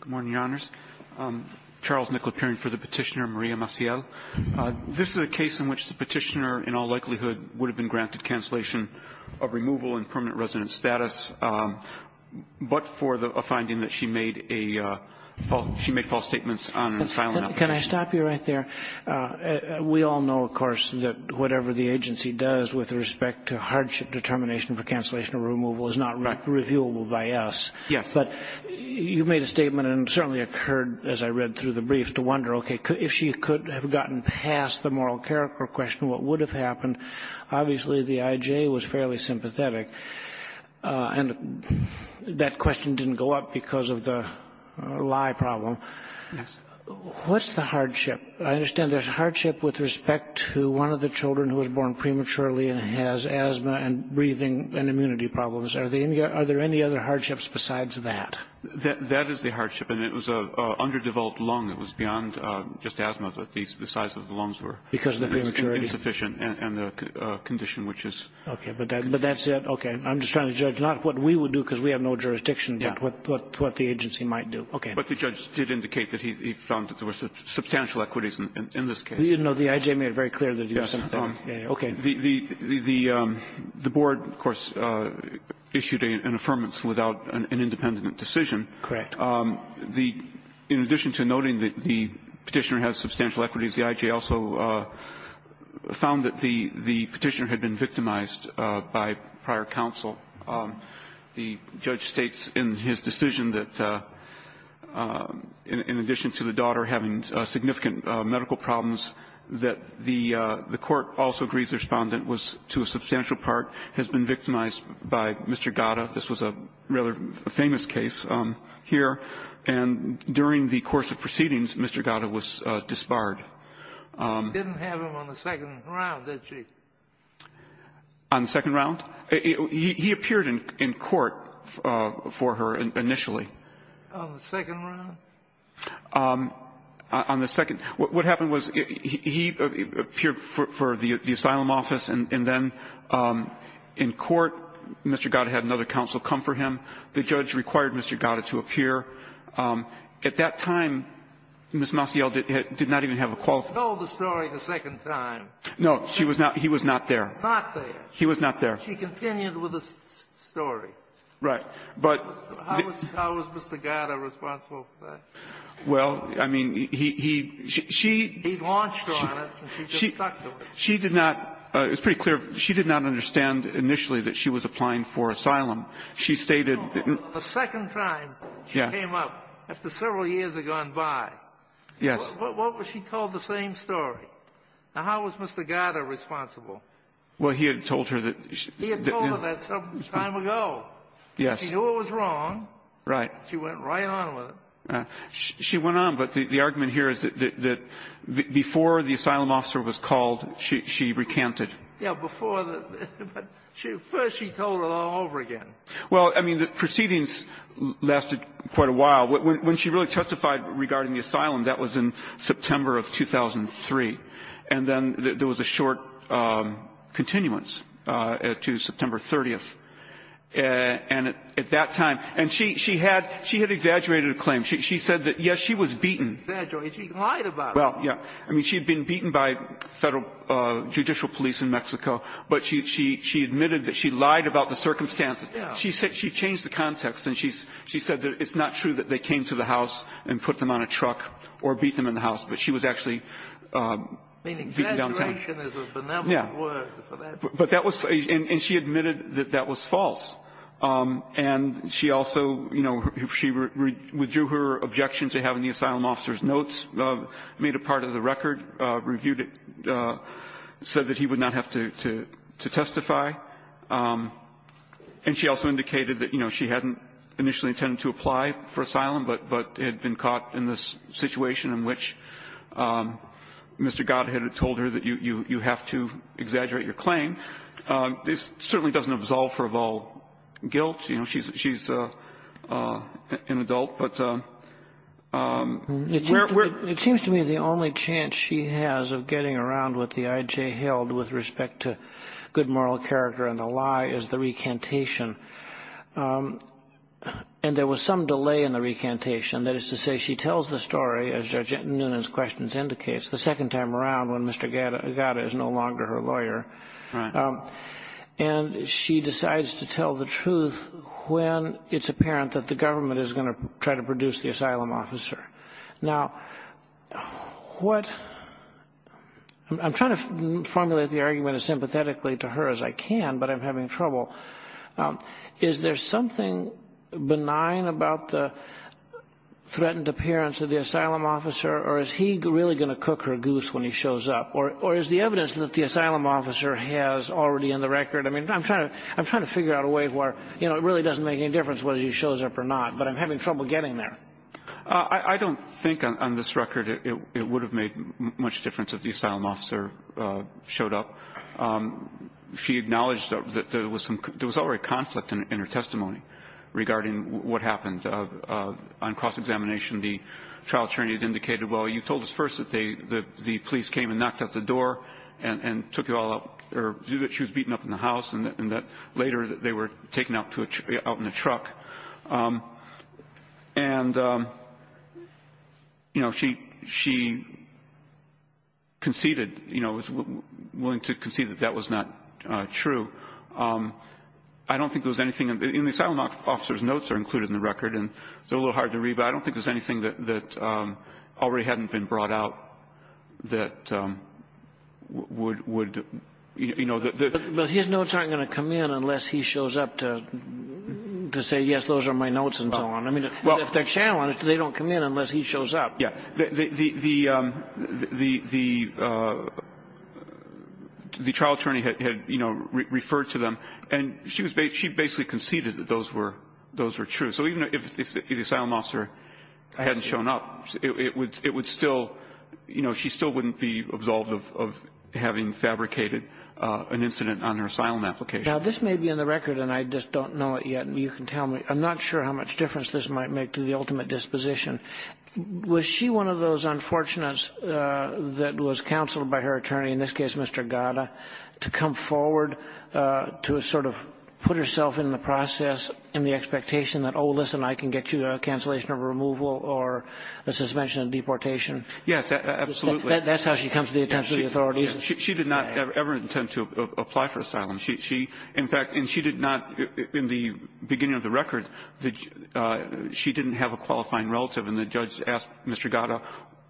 Good morning, Your Honors. Charles Nickl, appearing for the petitioner, Maria Maciel. This is a case in which the petitioner in all likelihood would have been granted cancellation of removal and permanent resident status, but for a finding that she made false statements on an asylum application. Can I stop you right there? We all know, of course, that whatever the agency does with respect to hardship determination for cancellation or removal is not reviewable by us. Yes. But you made a statement and certainly occurred, as I read through the brief, to wonder, okay, if she could have gotten past the moral character question, what would have happened? Obviously, the IJ was fairly sympathetic, and that question didn't go up because of the lie problem. Yes. What's the hardship? I understand there's hardship with respect to one of the children who was born prematurely and has asthma and breathing and immunity problems. Are there any other hardships besides that? That is the hardship, and it was an underdeveloped lung. It was beyond just asthma, but the size of the lungs were insufficient and the condition, which is... Okay, but that's it? Okay. I'm just trying to judge not what we would do because we have no jurisdiction, but what the agency might do. Okay. But the judge did indicate that he found that there were substantial equities in this case. No, the IJ made it very clear that he was sympathetic. Yes. Okay. The board, of course, issued an affirmance without an independent decision. Correct. In addition to noting that the Petitioner has substantial equities, the IJ also found that the Petitioner had been victimized by prior counsel. The judge states in his decision that in addition to the daughter having significant medical problems, that the court also agrees the Respondent was, to a substantial part, has been victimized by Mr. Gatta. This was a rather famous case here. And during the course of proceedings, Mr. Gatta was disbarred. You didn't have him on the second round, did you? On the second round? He appeared in court for her initially. On the second round? On the second. What happened was he appeared for the asylum office, and then in court, Mr. Gatta had another counsel come for him. The judge required Mr. Gatta to appear. At that time, Ms. Maciel did not even have a qualification. She told the story the second time. No. She was not he was not there. Not there. He was not there. She continued with the story. Right. How was Mr. Gatta responsible for that? Well, I mean, he she He launched her on it, and she just stuck to it. She did not. It's pretty clear. She did not understand initially that she was applying for asylum. She stated The second time she came up, after several years had gone by. Yes. What was she told? The same story. Now, how was Mr. Gatta responsible? Well, he had told her that He had told her that some time ago. Yes. She knew it was wrong. Right. She went right on with it. She went on. But the argument here is that before the asylum officer was called, she recanted. Yeah. Before the But first she told it all over again. Well, I mean, the proceedings lasted quite a while. When she really testified regarding the asylum, that was in September of 2003. And then there was a short continuance to September 30th. And at that time And she had exaggerated a claim. She said that, yes, she was beaten. Exaggerated. She lied about it. Well, yeah. I mean, she had been beaten by federal judicial police in Mexico. But she admitted that she lied about the circumstances. Yeah. She changed the context. And she said that it's not true that they came to the house and put them on a truck or beat them in the house. But she was actually beaten downtown. Meaning exaggeration is a benevolent word for that. Yeah. And she admitted that that was false. And she also, you know, she withdrew her objection to having the asylum officer's notes, made a part of the record, reviewed it, said that he would not have to testify. And she also indicated that, you know, she hadn't initially intended to apply for asylum, but had been caught in this situation in which Mr. Godhead had told her that you have to exaggerate your claim. This certainly doesn't absolve her of all guilt. You know, she's an adult. It seems to me the only chance she has of getting around what the IJ held with respect to good moral character and the lie is the recantation. And there was some delay in the recantation. That is to say she tells the story, as Judge Nunez's questions indicates, the second time around when Mr. Godhead is no longer her lawyer. And she decides to tell the truth when it's apparent that the government is going to try to produce the asylum officer. Now, what I'm trying to formulate the argument as sympathetically to her as I can, but I'm having trouble. Is there something benign about the threatened appearance of the asylum officer? Or is he really going to cook her goose when he shows up? Or is the evidence that the asylum officer has already in the record? I mean, I'm trying to figure out a way where, you know, it really doesn't make any difference whether he shows up or not. But I'm having trouble getting there. I don't think on this record it would have made much difference if the asylum officer showed up. She acknowledged that there was already conflict in her testimony regarding what happened on cross-examination. The trial attorney had indicated, well, you told us first that the police came and knocked at the door and took you all out. Or that she was beaten up in the house and that later they were taken out in a truck. And, you know, she conceded, you know, was willing to concede that that was not true. I don't think there was anything in the asylum officer's notes that are included in the record. And they're a little hard to read, but I don't think there's anything that already hadn't been brought out that would, you know. But his notes aren't going to come in unless he shows up to say, yes, those are my notes and so on. I mean, if they're challenged, they don't come in unless he shows up. Yeah. The trial attorney had, you know, referred to them and she basically conceded that those were true. So even if the asylum officer hadn't shown up, it would still, you know, she still wouldn't be absolved of having fabricated an incident on her asylum application. Now, this may be in the record, and I just don't know it yet. You can tell me. I'm not sure how much difference this might make to the ultimate disposition. Was she one of those unfortunates that was counseled by her attorney, in this case, Mr. Gada, to come forward to sort of put herself in the process and the expectation that, oh, listen, I can get you a cancellation of removal or a suspension of deportation? Yes, absolutely. That's how she comes to the attention of the authorities. She did not ever intend to apply for asylum. She, in fact, and she did not, in the beginning of the record, she didn't have a qualifying relative. And the judge asked Mr. Gada,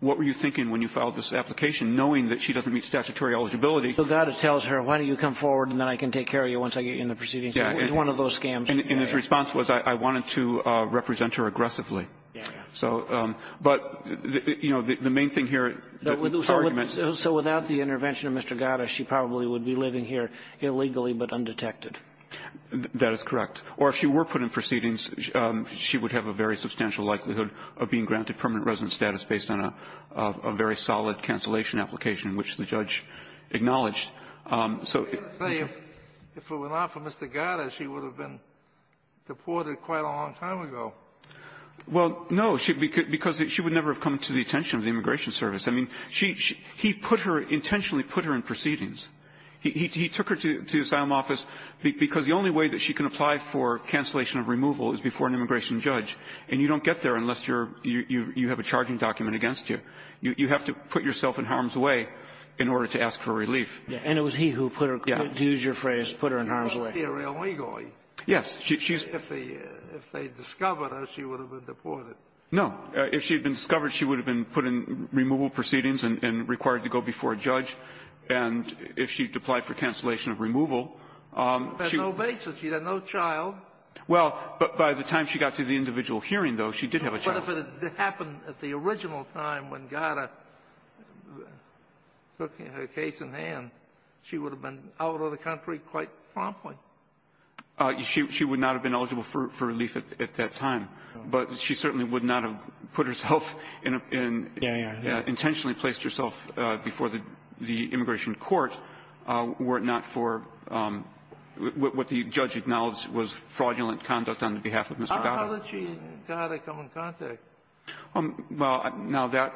what were you thinking when you filed this application, knowing that she doesn't meet statutory eligibility? So Gada tells her, why don't you come forward and then I can take care of you once I get you in the proceeding. Yeah. It was one of those scams. And his response was, I wanted to represent her aggressively. Yeah. So, but, you know, the main thing here is the argument. So without the intervention of Mr. Gada, she probably would be living here illegally but undetected. That is correct. Or if she were put in proceedings, she would have a very substantial likelihood of being granted permanent residence status based on a very solid cancellation application, which the judge acknowledged. So if it were not for Mr. Gada, she would have been deported quite a long time ago. Well, no, because she would never have come to the attention of the Immigration Service. I mean, he put her, intentionally put her in proceedings. He took her to the asylum office because the only way that she can apply for cancellation of removal is before an immigration judge, and you don't get there unless you're you have a charging document against you. You have to put yourself in harm's way in order to ask for relief. And it was he who put her, to use your phrase, put her in harm's way. Yes. If they discovered her, she would have been deported. No. If she had been discovered, she would have been put in removal proceedings and required to go before a judge. And if she had applied for cancellation of removal, she was no basis. She had no child. Well, but by the time she got to the individual hearing, though, she did have a child. But if it had happened at the original time when Gada took her case in hand, she would have been out of the country quite promptly. She would not have been eligible for relief at that time. But she certainly would not have put herself in and intentionally placed herself before the immigration court were it not for what the judge acknowledged was fraudulent conduct on the behalf of Mr. Gada. How did she and Gada come in contact? Well, now that,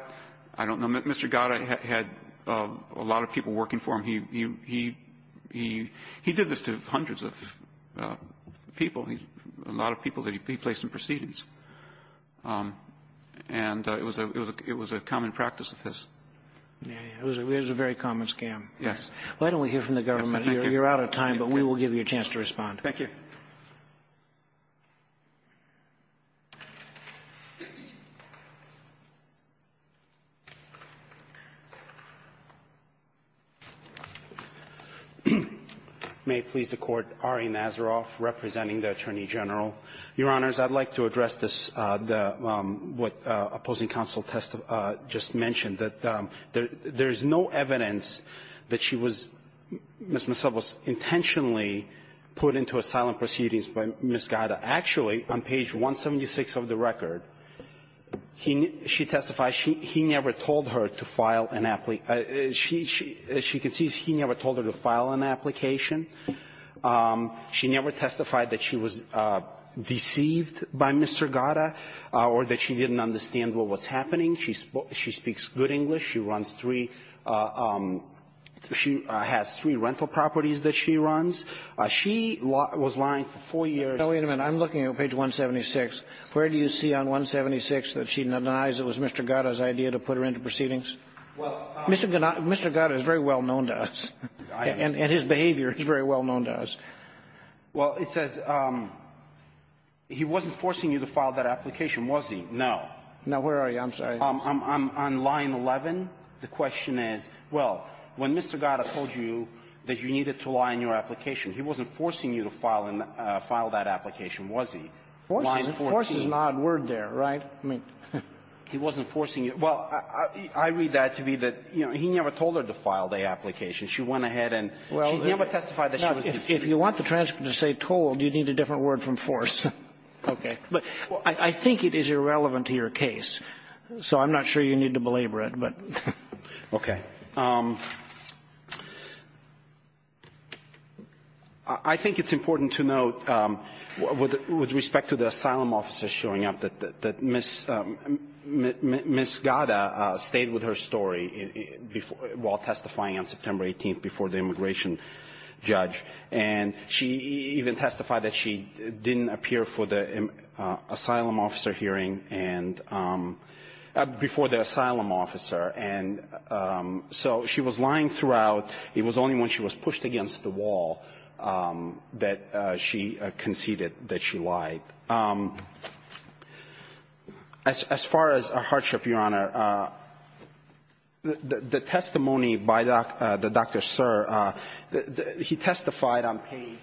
I don't know. Mr. Gada had a lot of people working for him. He did this to hundreds of people, a lot of people that he placed in proceedings. And it was a common practice of his. It was a very common scam. Yes. Why don't we hear from the government? You're out of time, but we will give you a chance to respond. Thank you. May it please the Court. Ari Nazaroff representing the Attorney General. Your Honors, I'd like to address this, what opposing counsel just mentioned, that there is no evidence that she was Ms. Masebo intentionally put into asylum proceedings by Ms. Gada. Actually, on page 176 of the record, she testified she never told her to file an application as she can see, she never told her to file an application. She never testified that she was deceived by Mr. Gada or that she didn't understand what was happening. She speaks good English. She runs three – she has three rental properties that she runs. She was lying for four years. Now, wait a minute. I'm looking at page 176. Where do you see on 176 that she denies it was Mr. Gada's idea to put her into proceedings? Mr. Gada is very well known to us. And his behavior is very well known to us. Well, it says he wasn't forcing you to file that application, was he? No. Now, where are you? I'm sorry. I'm on line 11. The question is, well, when Mr. Gada told you that you needed to lie in your application, he wasn't forcing you to file that application, was he? Force is an odd word there, right? I mean, he wasn't forcing you. Well, I read that to be that, you know, he never told her to file the application. She went ahead and she never testified that she was deceived. If you want the transcript to say told, you need a different word from force. Okay. But I think it is irrelevant to your case. So I'm not sure you need to belabor it, but. Okay. I think it's important to note with respect to the asylum officers showing up that Ms. Gada stayed with her story while testifying on September 18th before the immigration judge. And she even testified that she didn't appear for the asylum officer hearing and before the asylum officer. And so she was lying throughout. It was only when she was pushed against the wall that she conceded that she lied. As far as hardship, Your Honor, the testimony by the Dr. Sir, he testified on page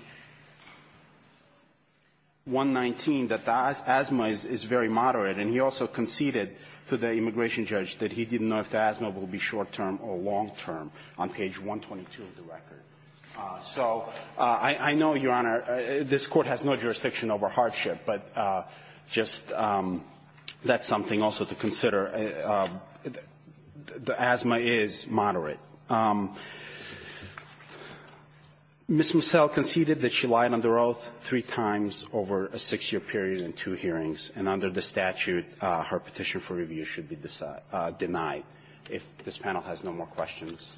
119 that the asthma is very moderate, and he also conceded to the immigration judge that he didn't know if the asthma will be short-term or long-term on page 122 of the record. So I know, Your Honor, this Court has no jurisdiction over hardship. But just that's something also to consider. The asthma is moderate. Ms. Mussel conceded that she lied under oath three times over a six-year period and two hearings. And under the statute, her petition for review should be denied. If this panel has no more questions,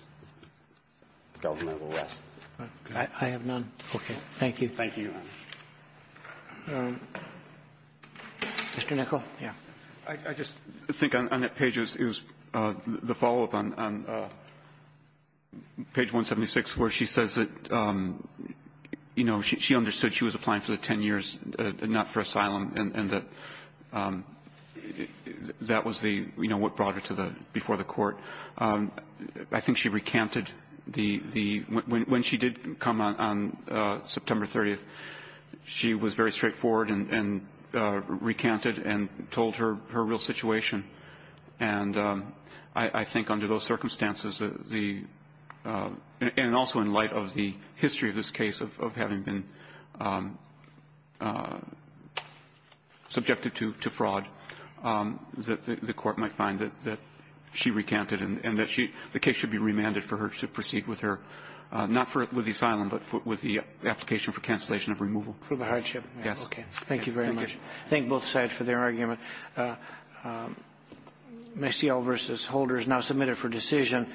the government will rest. Okay. Thank you, Your Honor. Mr. Nichol? Yeah. I just think on that page, it was the follow-up on page 176 where she says that, you know, she understood she was applying for the 10 years, not for asylum, and that that was the, you know, what brought her to the before the Court. I think she recanted the — when she did come on September 30th, she was very straightforward and recanted and told her real situation. And I think under those circumstances, the — and also in light of the history of this case of having been subjected to fraud, that the Court might find that she recanted and that she — the case should be remanded for her to proceed with her — not for the asylum, but with the application for cancellation of removal. For the hardship? Yes. Okay. Thank you very much. Thank you. Thank both sides for their argument. Mecile v. Holder is now submitted for decision.